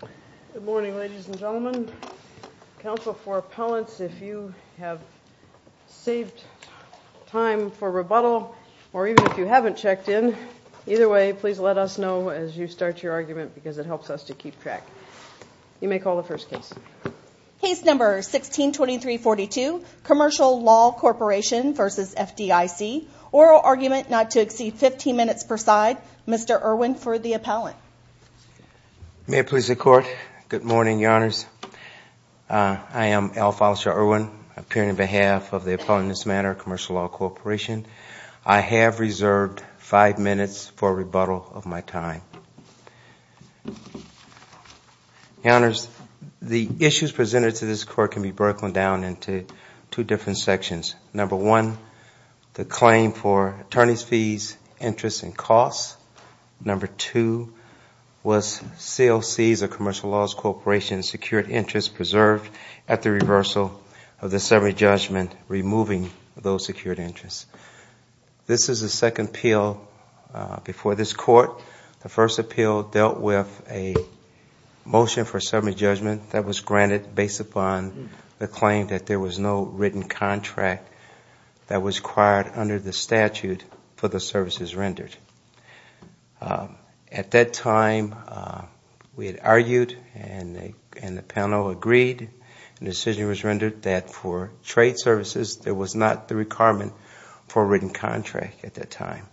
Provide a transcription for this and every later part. Good morning, ladies and gentlemen. Counsel for appellants, if you have saved time for rebuttal, or even if you haven't checked in, either way, please let us know as you start your argument because it helps us to keep track. You may call the first case. Case number 162342, Commercial Law Corporation v. FDIC. Oral argument not to exceed 15 minutes per side. Mr. Irwin for the appellant. May it please the Court. Good morning, Your Honors. I am Al Fowler Irwin, appearing on behalf of the Appellants Matter Commercial Law Corporation. I have reserved five minutes for rebuttal of my time. Your Honors, the issues presented to this Court can be broken down into two different sections. Number one, the claim for attorney's fees, interest, and costs. Number two, was COCs or Commercial Law Corporation secured interest preserved at the reversal of the summary judgment, removing those secured interests. This is the second appeal before this Court. The first appeal dealt with a motion for summary judgment that was granted based upon the claim that there was no written contract that was required under the statute for the services rendered. At that time, we had argued and the panel agreed and the decision was rendered that for trade services, there was not the requirement for a written contract at that time.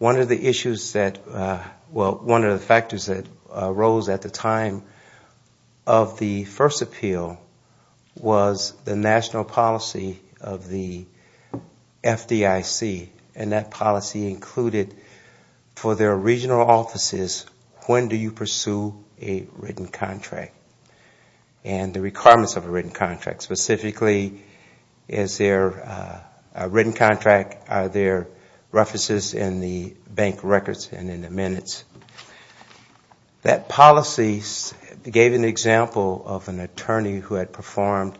One of the factors that arose at the time of the first appeal was the national policy of the FDIC and that policy included for their regional offices, when do you pursue a written contract and the requirements of a written contract. Specifically, is there a written contract, are there references in the bank records and in the minutes. That policy gave an example of an attorney who had performed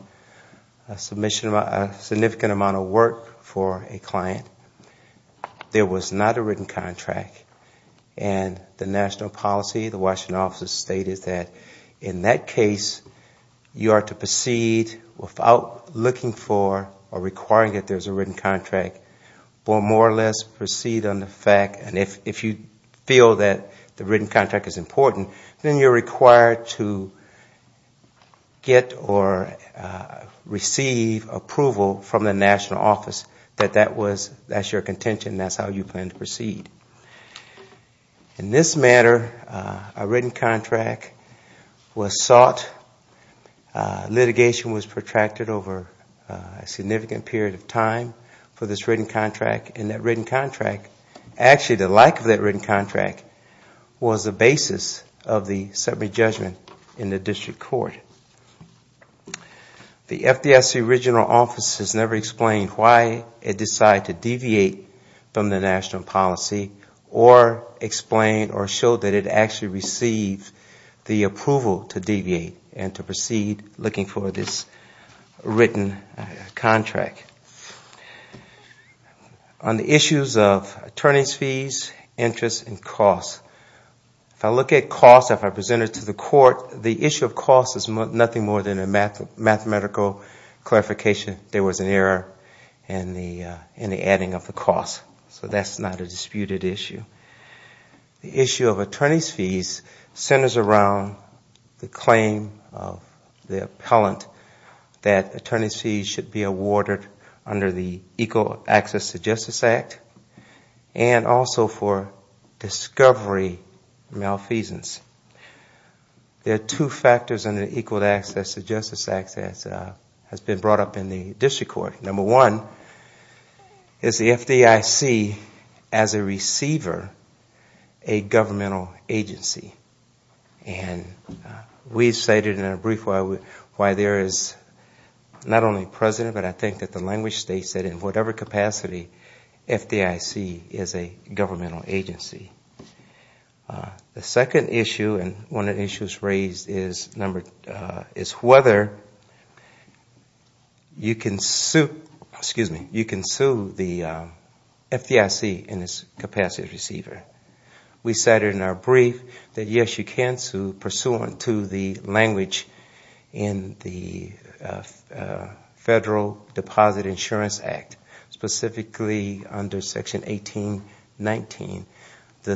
a significant amount of work for a client. There was not a written contract. The national policy of the Washington Office of the State is that in that case, you are to proceed without looking for or requiring that there is a written contract, but more or less proceed on the fact that if you feel that the written contract is important, then you are required to get or receive approval from the national office that that is your contention and that is how you plan to proceed. In this matter, a written contract was sought. Litigation was protracted over a significant period of time for this written contract and that written contract, actually the lack of that written contract was the basis of the summary judgment in the district court. The FDIC regional office has never explained why it decided to deviate from the national policy or explain or show that it actually received the approval to deviate and to proceed looking for this written contract. On the issues of attorney's fees, interest and cost, if I look at cost, if I present it to the court, the issue of cost is nothing more than a mathematical clarification. There was an error in the adding of the cost, so that is not a disputed issue. The issue of attorney's fees centers around the claim of the appellant that attorney's fees should be awarded under the Equal Access to Justice Act and also for discovery malfeasance. There are two factors under the Equal Access to Justice Act that has been brought up in the district court. Number one, is the FDIC, as a receiver, a governmental agency? And we cited in a brief why there is not only precedent, but I think that the language states that in whatever capacity, FDIC is a governmental agency. The second issue and one of the issues raised is whether you can sue the FDIC in its capacity of receiver. We cited in our brief that yes, you can sue pursuant to the language in the Federal Deposit Insurance Act, specifically under Section 1819. Under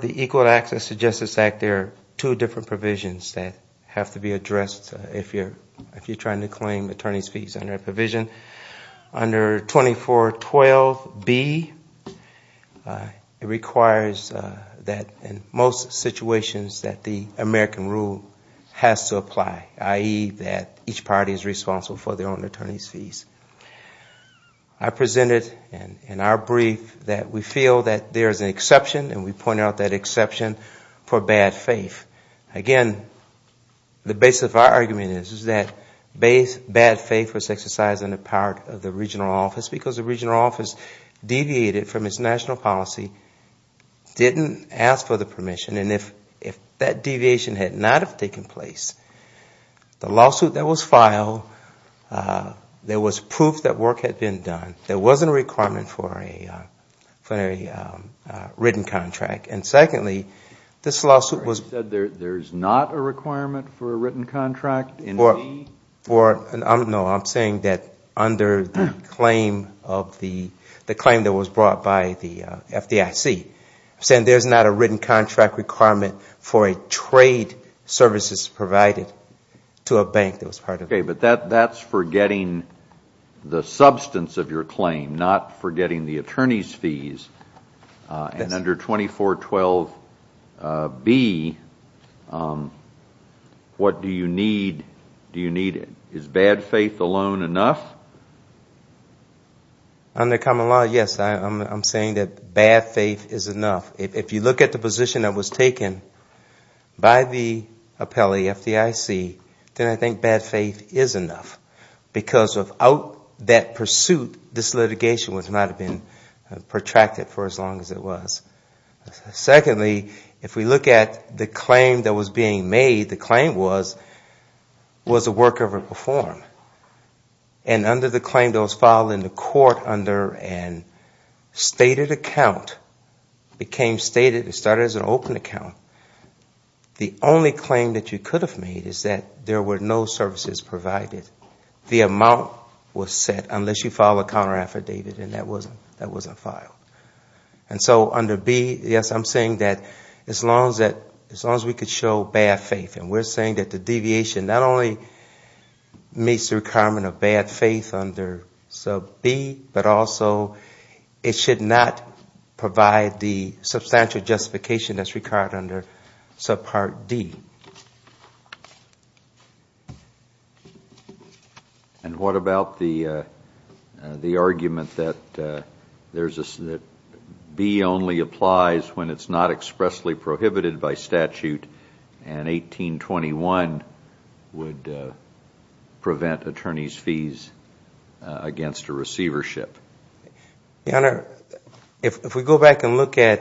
the Equal Access to Justice Act, there are two different provisions that have to be addressed if you are trying to claim attorney's fees under a provision. Under 2412B, it requires that in most situations that the American rule has to apply, i.e., that each party is responsible for their own attorney's fees. I presented in our brief that we feel that there is an exception and we pointed out that exception for bad faith. Again, the basis of our argument is that bad faith was exercised on the part of the regional office because the regional office deviated from its national policy, didn't ask for the permission, and if that deviation had not have taken place, the lawsuit that was filed, there was proof that work had been done, there wasn't a requirement for a written contract. You said there is not a requirement for a written contract? No, I am saying that under the claim that was brought by the FDIC, there is not a written contract requirement for a trade services provided to a bank that was part of it. Okay, but that is forgetting the substance of your claim, not forgetting the attorney's fees. Under 2412B, what do you need? Is bad faith alone enough? Under common law, yes, I am saying that bad faith is enough. If you look at the position that was taken by the appellee, FDIC, then I think bad faith is enough because without that pursuit, this litigation would not have been protracted for as long as it was. Secondly, if we look at the claim that was being made, the claim was, was the work ever performed? And under the claim that was filed in the court under a stated account, it became stated, it started as an open account, the only claim that you could have made is that there were no services provided, the amount was set unless you filed a counter affidavit and that wasn't filed. And so under B, yes, I am saying that as long as we could show bad faith, and we are saying that the deviation not only meets the requirement of bad faith under sub B, but also it should not provide the substantial justification that is required under sub part D. And what about the argument that B only applies when it is not expressly prohibited by statute and 1821 would prevent attorney's fees against a receivership? Your Honor, if we go back and look at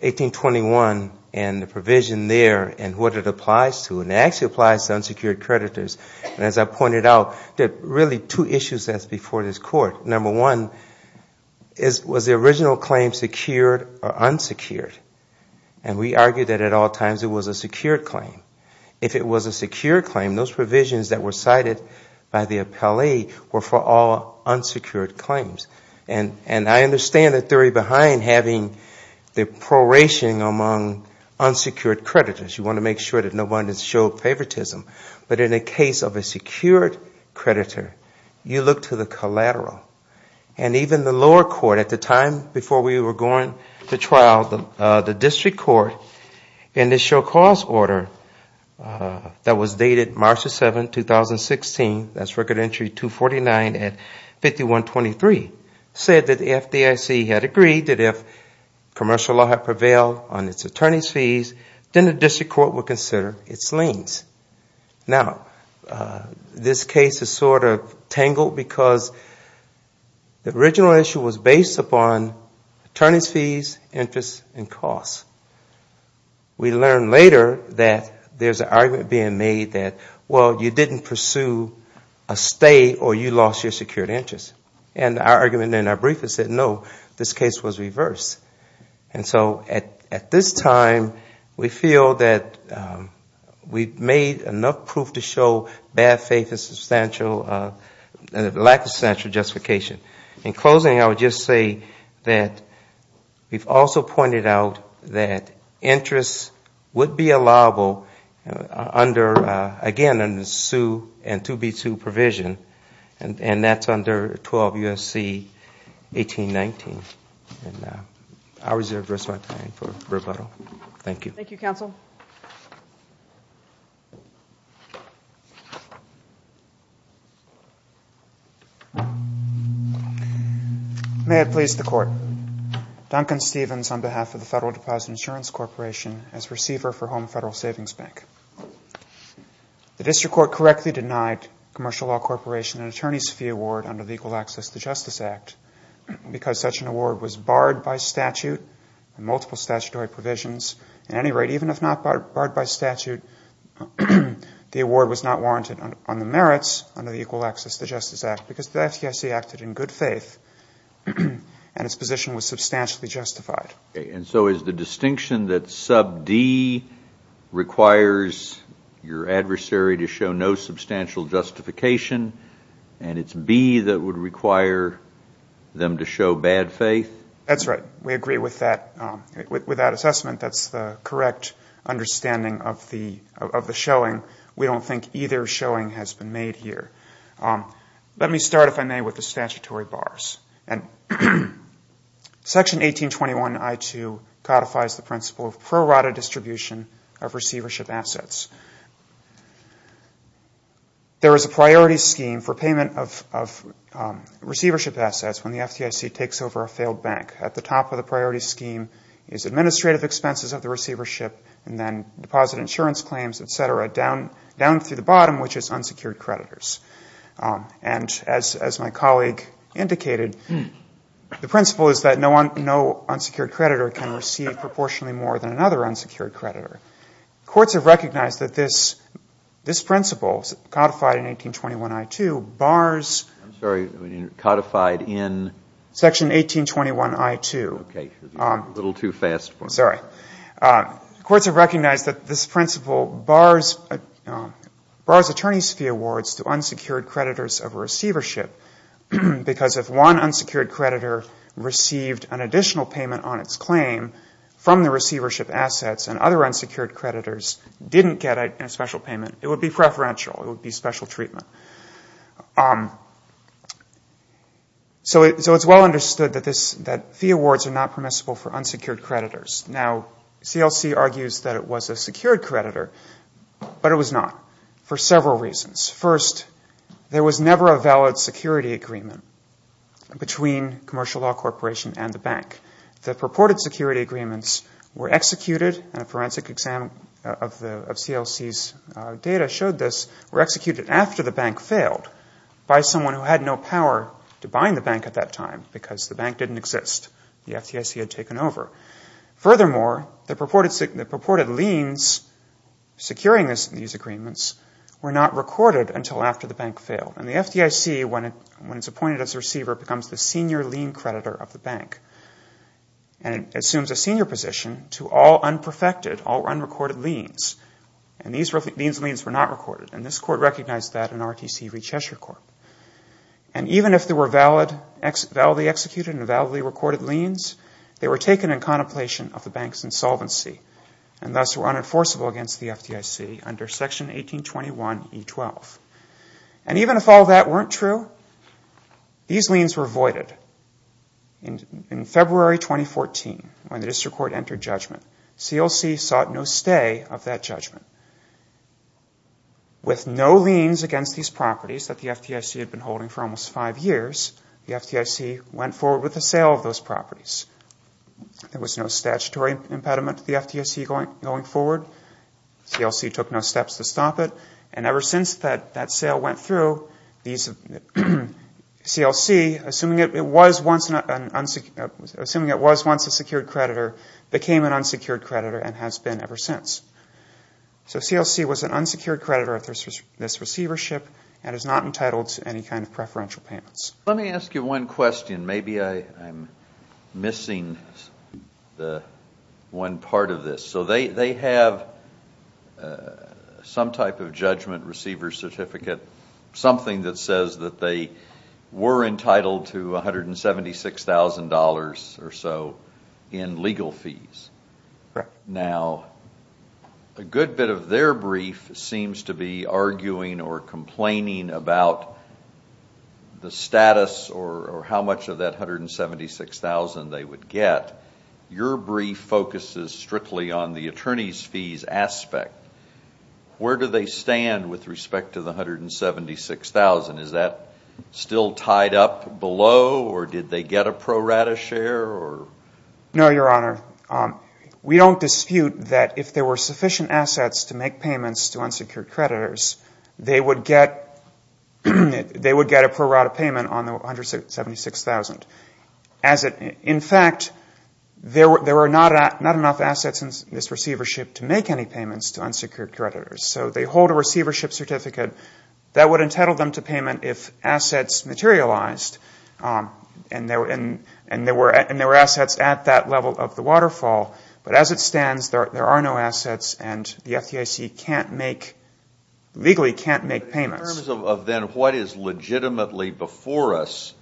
1821 and the provision there and what it applies to, and it actually applies to unsecured creditors, and as I pointed out, there are really two issues before this court. Number one, was the original claim secured or unsecured? And we argue that at all times it was a secured claim. If it was a secured claim, those provisions that were cited by the appellee were for all unsecured claims. And I understand the theory behind having the proration among unsecured creditors. You want to make sure that no one has showed favoritism. But in the case of a secured creditor, you look to the collateral. And even the lower court at the time before we were going to trial, the district court, in the show cause order that was dated March 7, 2016, that's Record Entry 249 at 5123, said that the FDIC had agreed that if commercial law had prevailed on its attorney's fees, then the district court would consider its liens. Now, this case is sort of tangled because the original issue was based upon attorney's fees, interest, and costs. We learned later that there's an argument being made that, well, you didn't pursue a stay or you lost your secured interest. And our argument in our brief is that, no, this case was reversed. And so at this time, we feel that we've made enough proof to show bad faith and lack of substantial justification. In closing, I would just say that we've also pointed out that interest would be allowable under, again, under the Sue and 2B2 provision, and that's under 12 U.S.C. 1819. And I'll reserve the rest of my time for rebuttal. Thank you. Thank you, counsel. May it please the Court. Duncan Stevens on behalf of the Federal Deposit Insurance Corporation as receiver for Home Federal Savings Bank. The district court correctly denied commercial law corporation an attorney's fee award under the Equal Access to Justice Act because such an award was barred by statute and multiple statutory provisions. At any rate, even if not barred by statute, the award was not warranted on the merits under the Equal Access to Justice Act because the FDIC acted in good faith and its position was substantially justified. And so is the distinction that sub D requires your adversary to show no substantial justification and it's B that would require them to show bad faith? That's right. We agree with that assessment. That's the correct understanding of the showing. We don't think either showing has been made here. Let me start, if I may, with the statutory bars. And Section 1821.I.2 codifies the principle of pro rata distribution of receivership assets. There is a priority scheme for payment of receivership assets when the FDIC takes over a failed bank. At the top of the priority scheme is administrative expenses of the receivership and then deposit insurance claims, et cetera, down through the bottom, which is unsecured creditors. And as my colleague indicated, the principle is that no unsecured creditor can receive proportionally more than another unsecured creditor. Courts have recognized that this principle, codified in 1821.I.2, bars attorneys' fee awards to unsecured creditors. Because if one unsecured creditor received an additional payment on its claim from the receivership assets and other unsecured creditors didn't get a special payment, it would be preferential. It would be special treatment. So it's well understood that fee awards are not permissible for unsecured creditors. Now, CLC argues that it was a secured creditor, but it was not for several reasons. First, there was never a valid security agreement between Commercial Law Corporation and the bank. The purported security agreements were executed, and a forensic exam of CLC's data showed this, were executed after the bank failed by someone who had no power to bind the bank at that time because the bank didn't exist. The FDIC had taken over. Furthermore, the purported liens securing these agreements were not recorded until after the bank failed. And the FDIC, when it's appointed as a receiver, becomes the senior lien creditor of the bank and assumes a senior position to all unperfected, all unrecorded liens. And these liens were not recorded, and this Court recognized that in RTC v. Cheshire Court. And even if they were validly executed and validly recorded liens, they were taken in contemplation of the bank's insolvency, and thus were unenforceable against the FDIC under Section 1821 E-12. And even if all that weren't true, these liens were voided. In February 2014, when the District Court entered judgment, CLC sought no stay of that judgment. With no liens against these properties that the FDIC had secured, CLC had no right to use them. And even if the FDIC had been holding them for almost five years, the FDIC went forward with the sale of those properties. There was no statutory impediment to the FDIC going forward. CLC took no steps to stop it. And ever since that sale went through, CLC, assuming it was once a secured creditor, became an unsecured creditor and has been ever since. So CLC was an unsecured creditor of this receivership and is not entitled to any kind of preferential payments. Let me ask you one question. Maybe I'm missing one part of this. So they have some type of judgment receiver certificate, something that says that they were entitled to $176,000 or so in legal fees. Now, a good bit of their brief seems to be arguing or complaining about the status or how much of that $176,000 they would get. Your brief focuses strictly on the attorney's fees aspect. Where do they stand with respect to the $176,000? Is that still tied up below or did they get a pro rata share? No, Your Honor. We don't dispute that if there were sufficient assets to make payments to unsecured creditors, they would get a pro rata payment on the $176,000. In fact, there were not enough assets in this receivership to make any payments to unsecured creditors. So they hold a receivership certificate that would entitle them to payment if assets materialized and there were assets at that level of the waterfall. But as it stands, there are no assets and the FDIC legally can't make payments. In terms of then what is legitimately before us,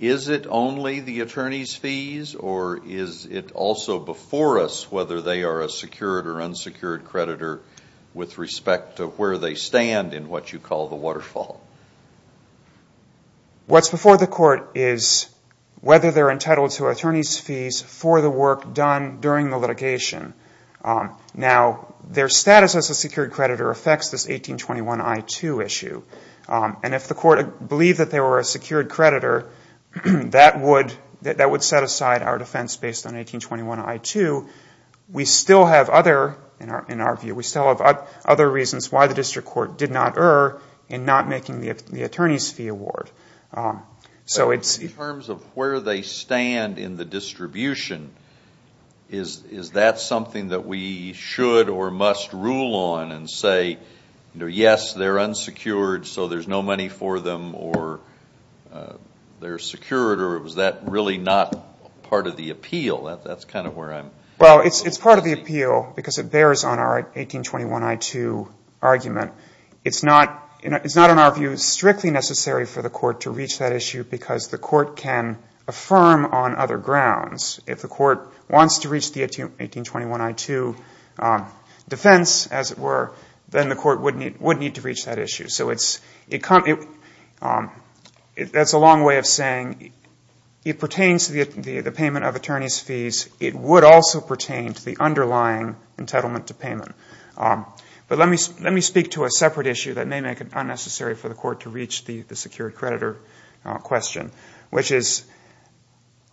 is it only the attorney's fees or is it also before us whether they are a secured or unsecured creditor with respect to where they stand in what you call the waterfall? What's before the court is whether they're entitled to attorney's fees for the work done during the litigation. Now, their status as a secured creditor affects this 1821 I-2 issue. And if the court believed that they were a secured creditor, that would set aside our defense based on 1821 I-2. We still have other reasons why the district court did not err in not making the attorney's fee award. In terms of where they stand in the distribution, is that something that we should or must rule on and say, yes, they're unsecured so there's no money for them or they're secured or is that really not part of the appeal? Well, it's part of the appeal because it bears on our 1821 I-2 argument. It's not in our view strictly necessary for the court to reach that issue because the court can affirm on other grounds. If the court wants to reach the 1821 I-2 defense, as it were, then the court would need to reach that issue. So that's a long way of saying it pertains to the payment of attorney's fees. It would also pertain to the underlying entitlement to payment. But let me speak to a separate issue that may make it unnecessary for the court to reach the secured creditor question, which is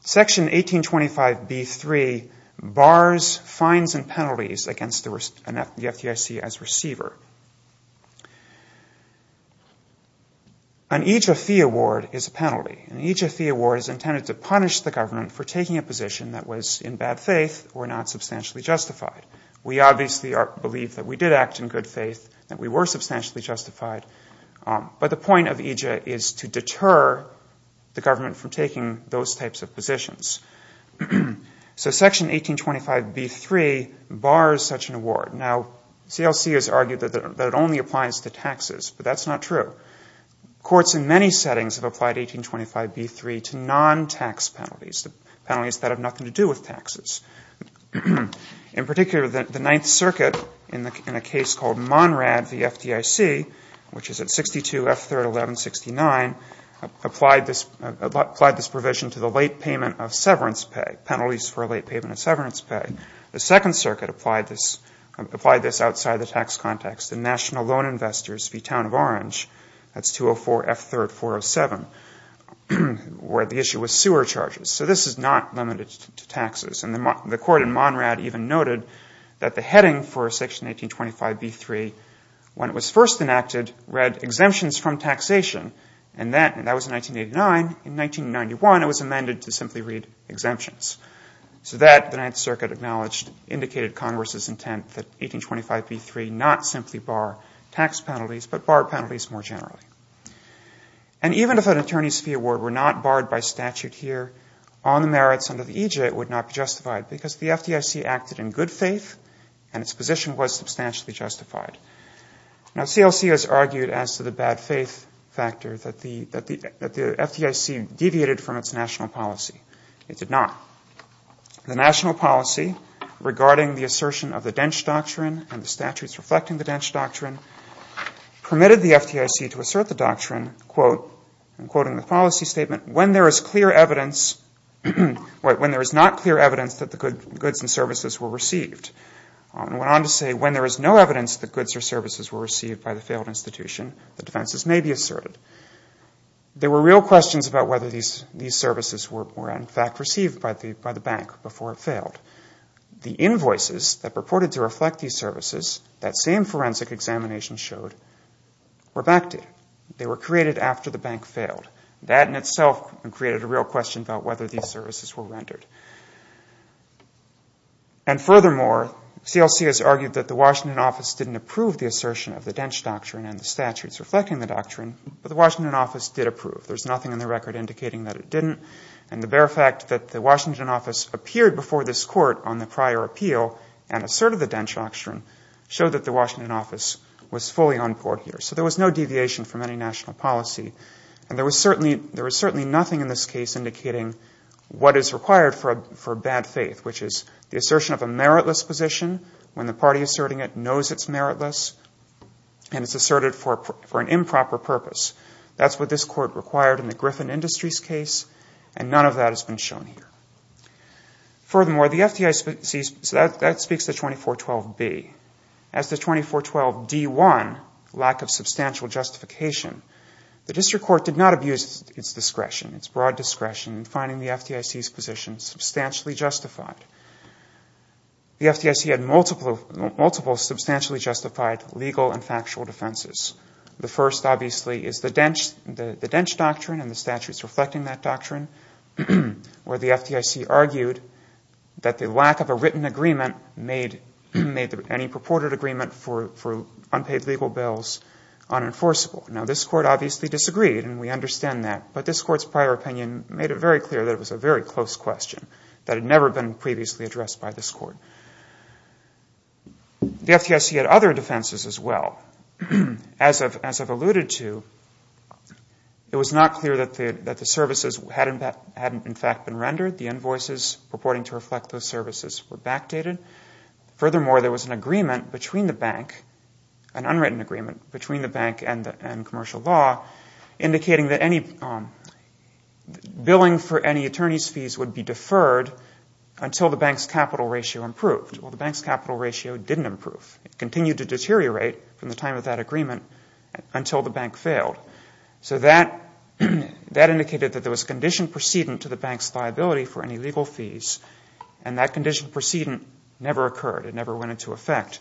Section 1825B-3 bars, fines, and penalties against the FDIC as receiver. An EJF fee award is a penalty. An EJF fee award is intended to punish the government for taking a position that was in bad faith or not substantially justified. We obviously believe that we did act in good faith, that we were substantially justified, but the point of EJF is to deter the government from taking those types of positions. So Section 1825B-3 bars such an award. Now, CLC has argued that it only applies to taxes, but that's not true. Courts in many settings have applied 1825B-3 to non-tax penalties, penalties that have nothing to do with taxes. In particular, the Ninth Circuit, in a case called Monrad v. FDIC, which is at 62 F-3-11-69, applied this provision to the late payment of severance pay, penalties for late payment of severance pay. The Second Circuit applied this outside the tax context. The National Loan Investors v. Town of Orange, that's 204 F-3-407, where the issue was sewer charges. So this is not limited to taxes. And the Court in Monrad even noted that the heading for Section 1825B-3, when it was first enacted, read exemptions from taxation. And that was in 1989. In 1991, it was amended to simply read exemptions. So that, the Ninth Circuit acknowledged, indicated Congress's intent that 1825B-3 not simply bar tax penalties, but bar penalties more generally. And even if an attorney's fee award were not barred by statute here on the merits under the EJ, it would not be justified, because the FDIC acted in good faith, and its position was substantially justified. Now, CLC has argued as to the bad faith factor that the FDIC deviated from its national policy. It did not. The national policy regarding the assertion of the Dentsch Doctrine and the statutes reflecting the Dentsch Doctrine permitted the FDIC to assert its position. It asserted the doctrine, quote, I'm quoting the policy statement, when there is clear evidence, when there is not clear evidence that the goods and services were received. It went on to say, when there is no evidence that goods or services were received by the failed institution, the defenses may be asserted. There were real questions about whether these services were in fact received by the bank before it failed. The invoices that purported to reflect these services, that same forensic examination showed, were backdated. They were created after the bank failed. That in itself created a real question about whether these services were rendered. And furthermore, CLC has argued that the Washington office didn't approve the assertion of the Dentsch Doctrine and the statutes reflecting the doctrine, but the Washington office did approve. There's nothing in the record indicating that it didn't. And the bare fact that the Washington office appeared before this court on the prior appeal and asserted the Dentsch Doctrine showed that the Washington office was fully on board here. So there was no deviation from any national policy. And there was certainly nothing in this case indicating what is required for bad faith, which is the assertion of a meritless position when the party asserting it knows it's meritless and it's asserted for an improper purpose. That's what this court required in the Griffin Industries case, and none of that has been shown here. Furthermore, the FDIC, so that speaks to 2412B. As to 2412D1, lack of substantial justification, the district court did not abuse its discretion, its broad discretion, in finding the FDIC's position substantially justified. The FDIC had multiple substantially justified legal and factual defenses. The first, obviously, is the Dentsch Doctrine and the statutes reflecting that doctrine, where the FDIC argued that the lack of a written agreement made any purported agreement for unpaid legal bills unenforceable. Now, this court obviously disagreed, and we understand that, but this court's prior opinion made it very clear that it was a very close question that had never been previously addressed by this court. The FDIC had other defenses as well. As I've alluded to, it was not clear that the services hadn't, in fact, been rendered. The invoices purporting to reflect those services were backdated. Furthermore, there was an agreement between the bank, an unwritten agreement between the bank and commercial law, indicating that any billing for any attorney's fees would be deferred until the bank's capital ratio improved. Well, the bank's capital ratio didn't improve. It continued to deteriorate from the time of that agreement until the bank failed. So that indicated that there was conditioned precedent to the bank's liability for any legal fees, and that conditioned precedent never occurred. It never went into effect.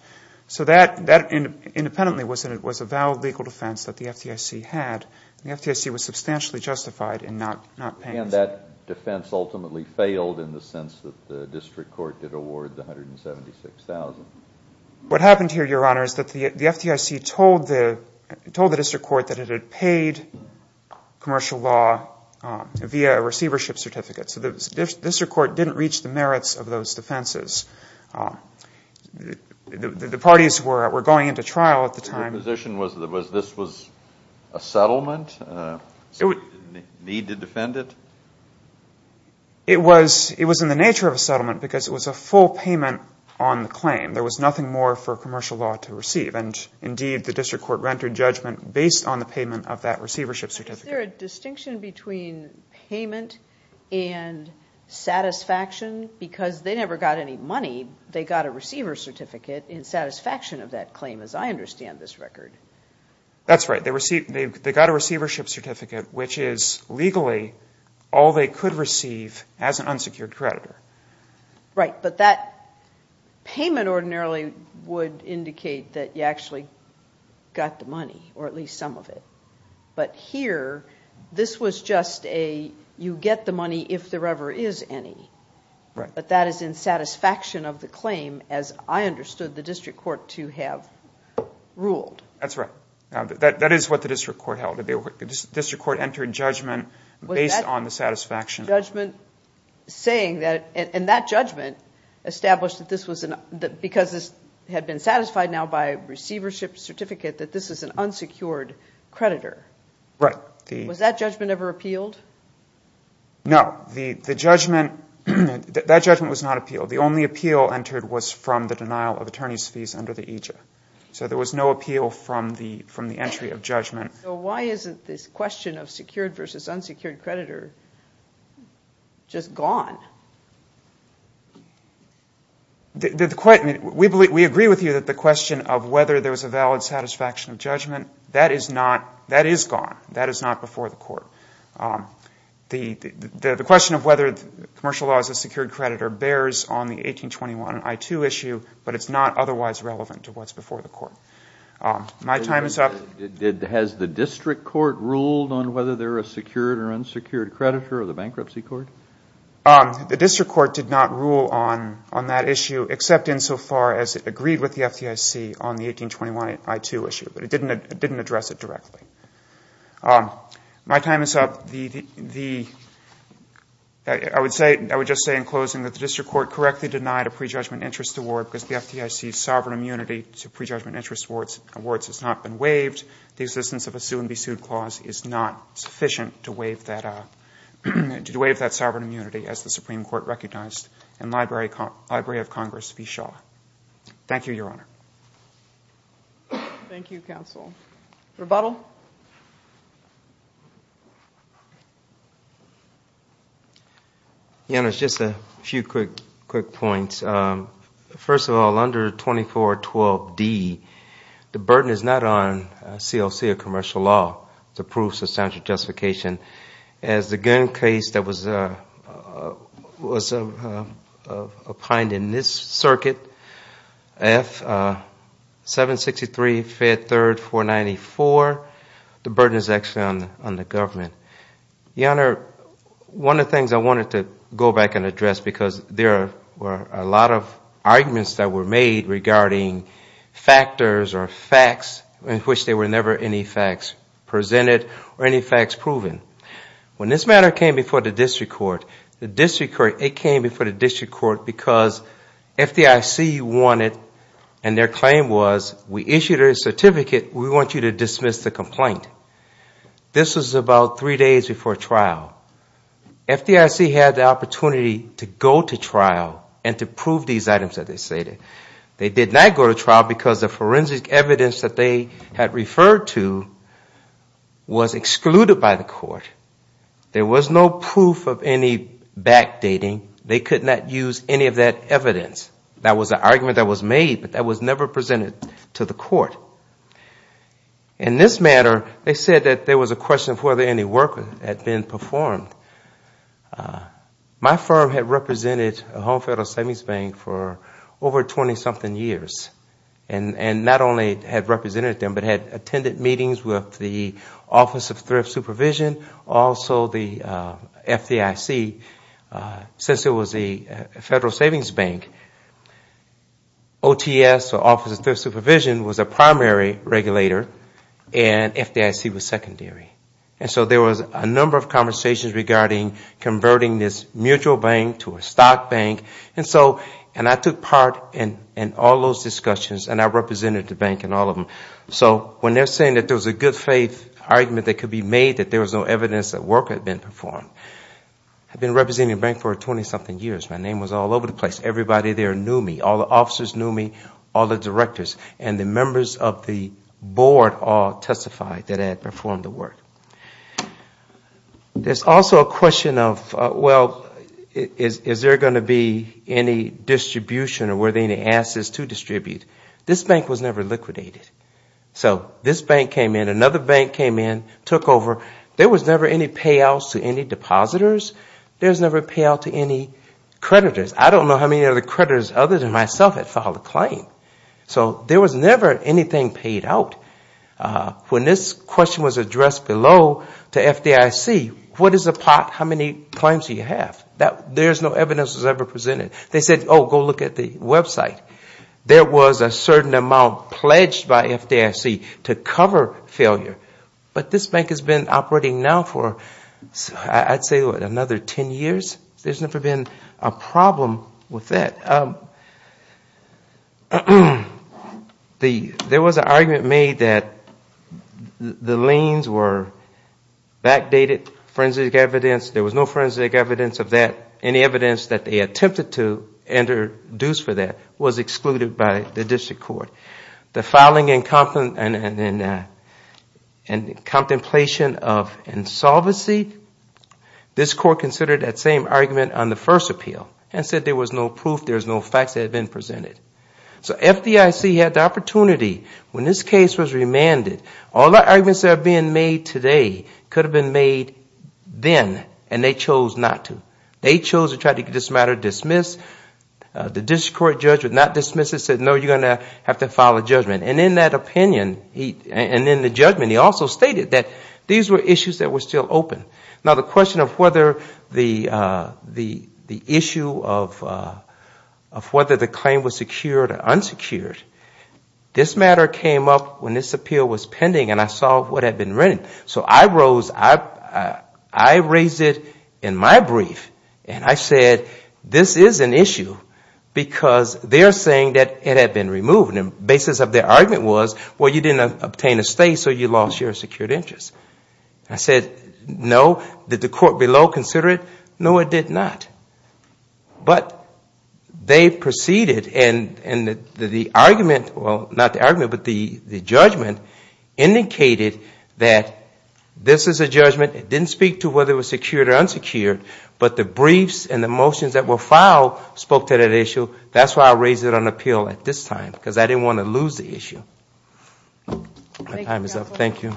So that, independently, was a valid legal defense that the FDIC had, and the FDIC was substantially justified in not paying it. And that defense ultimately failed in the sense that the district court did award the $176,000. What happened here, Your Honor, is that the FDIC told the district court that it had paid commercial law via a receivership certificate. So the district court didn't reach the merits of those defenses. The parties were going into trial at the time. Your position was that this was a settlement, so you didn't need to defend it? It was in the nature of a settlement because it was a full payment on the claim. There was nothing more for commercial law to receive, and indeed the district court rendered judgment based on the payment of that receivership certificate. Is there a distinction between payment and satisfaction? Because they never got any money, they got a receivership certificate in satisfaction of that claim, as I understand this record. That's right. They got a receivership certificate, which is legally all they could receive as an unsecured creditor. Right, but that payment ordinarily would indicate that you actually got the money, or at least some of it. But here, this was just a, you get the money if there ever is any. But that is in satisfaction of the claim, as I understood the district court to have ruled. That's right. That is what the district court held. The district court entered judgment based on the satisfaction. Judgment saying that, and that judgment established that this was, because this had been satisfied now by a receivership certificate, that this is an unsecured creditor. Right. Was that judgment ever appealed? No, the only appeal entered was from the denial of attorney's fees under the AJA. So there was no appeal from the entry of judgment. So why isn't this question of secured versus unsecured creditor just gone? We agree with you that the question of whether there was a valid satisfaction of judgment, that is not, that is gone. That is not before the court. The question of whether commercial law is a secured creditor bears on the 1821 I-2 issue, but it's not otherwise relevant to what's before the court. My time is up. Has the district court ruled on whether they're a secured or unsecured creditor, or the bankruptcy court? The district court did not rule on that issue, except insofar as it agreed with the FDIC on the 1821 I-2 issue. But it didn't address it directly. My time is up. I would just say in closing that the district court correctly denied a prejudgment interest award because the FDIC's sovereign immunity to prejudgment interest awards has not been waived. The existence of a sue-and-be-sued clause is not sufficient to waive that sovereign immunity, as the Supreme Court recognized in Library of Congress v. Shaw. Thank you, Your Honor. Thank you, counsel. Rebuttal? Your Honor, just a few quick points. First of all, under 2412D, the burden is not on CLC or commercial law to prove substantial justification. As the gun case that was opined in this circuit, F763, Fed 3rd, 494, and F763, Fed 3rd, 494. The burden is actually on the government. Your Honor, one of the things I wanted to go back and address, because there were a lot of arguments that were made regarding factors or facts in which there were never any facts presented or any facts proven. When this matter came before the district court, it came before the district court because FDIC wanted, and their claim was, we issued a certificate, we want you to dismiss the complaint. This was about three days before trial. FDIC had the opportunity to go to trial and to prove these items that they stated. They did not go to trial because the forensic evidence that they had referred to was excluded by the court. There was no proof of any backdating. They could not use any of that evidence. That was an argument that was made, but that was never presented to the court. In this matter, they said that there was a question of whether any work had been performed. My firm had represented Home Federal Savings Bank for over 20 something years, and not only had represented them, but had attended meetings with the Office of Thrift Supervision, also the FDIC, since it was a Federal Savings Bank. OTS, or Office of Thrift Supervision, was a primary regulator, and FDIC was secondary. So there was a number of conversations regarding converting this mutual bank to a stock bank, and I took part in all those discussions, and I represented the bank in all of them. So when they are saying that there was a good faith argument that could be made that there was no evidence that work had been performed, I had been representing the bank for 20 something years. My name was all over the place. Everybody there knew me. All the officers knew me, all the directors, and the members of the board all testified that I had performed the work. There's also a question of, well, is there going to be any distribution, or were there any assets to distribute? This bank was never liquidated. So this bank came in, another bank came in, took over. There was never any payouts to any depositors. There was never a payout to any creditors. I don't know how many other creditors other than myself had filed a claim. So there was never anything paid out. When this question was addressed below to FDIC, what is the pot, how many claims do you have? There's no evidence that was ever presented. They said, oh, go look at the website. There was a certain amount pledged by FDIC to cover failure, but this bank has been operating now for, I'd say, another 10 years. There's never been a problem with that. There was an argument made that the liens were backdated forensic evidence. There was no forensic evidence of that, any evidence that they attempted to introduce for that was excluded by the district court. The filing and contemplation of insolvency, this court considered that same argument on the first appeal and said there was no proof, there was no facts that had been presented. So FDIC had the opportunity when this case was remanded. All the arguments that are being made today could have been made then, and they chose not to. They chose to try to get this matter dismissed. The district court judge would not dismiss it, said no, you're going to have to file a judgment. And in that opinion, and in the judgment, he also stated that these were issues that were still open. Now the question of whether the issue of whether the claim was secured or unsecured, this matter came up when this appeal was pending. And I saw what had been written. So I raised it in my brief, and I said this is an issue because they're saying that it had been removed. And the basis of their argument was, well, you didn't obtain a stay, so you lost your secured interest. I said, no, did the court below consider it? No, it did not. But they proceeded, and the argument, well, not the argument, but the judgment indicated that this is a judgment. It didn't speak to whether it was secured or unsecured, but the briefs and the motions that were filed spoke to that issue. That's why I raised it on appeal at this time, because I didn't want to lose the issue. My time is up, thank you.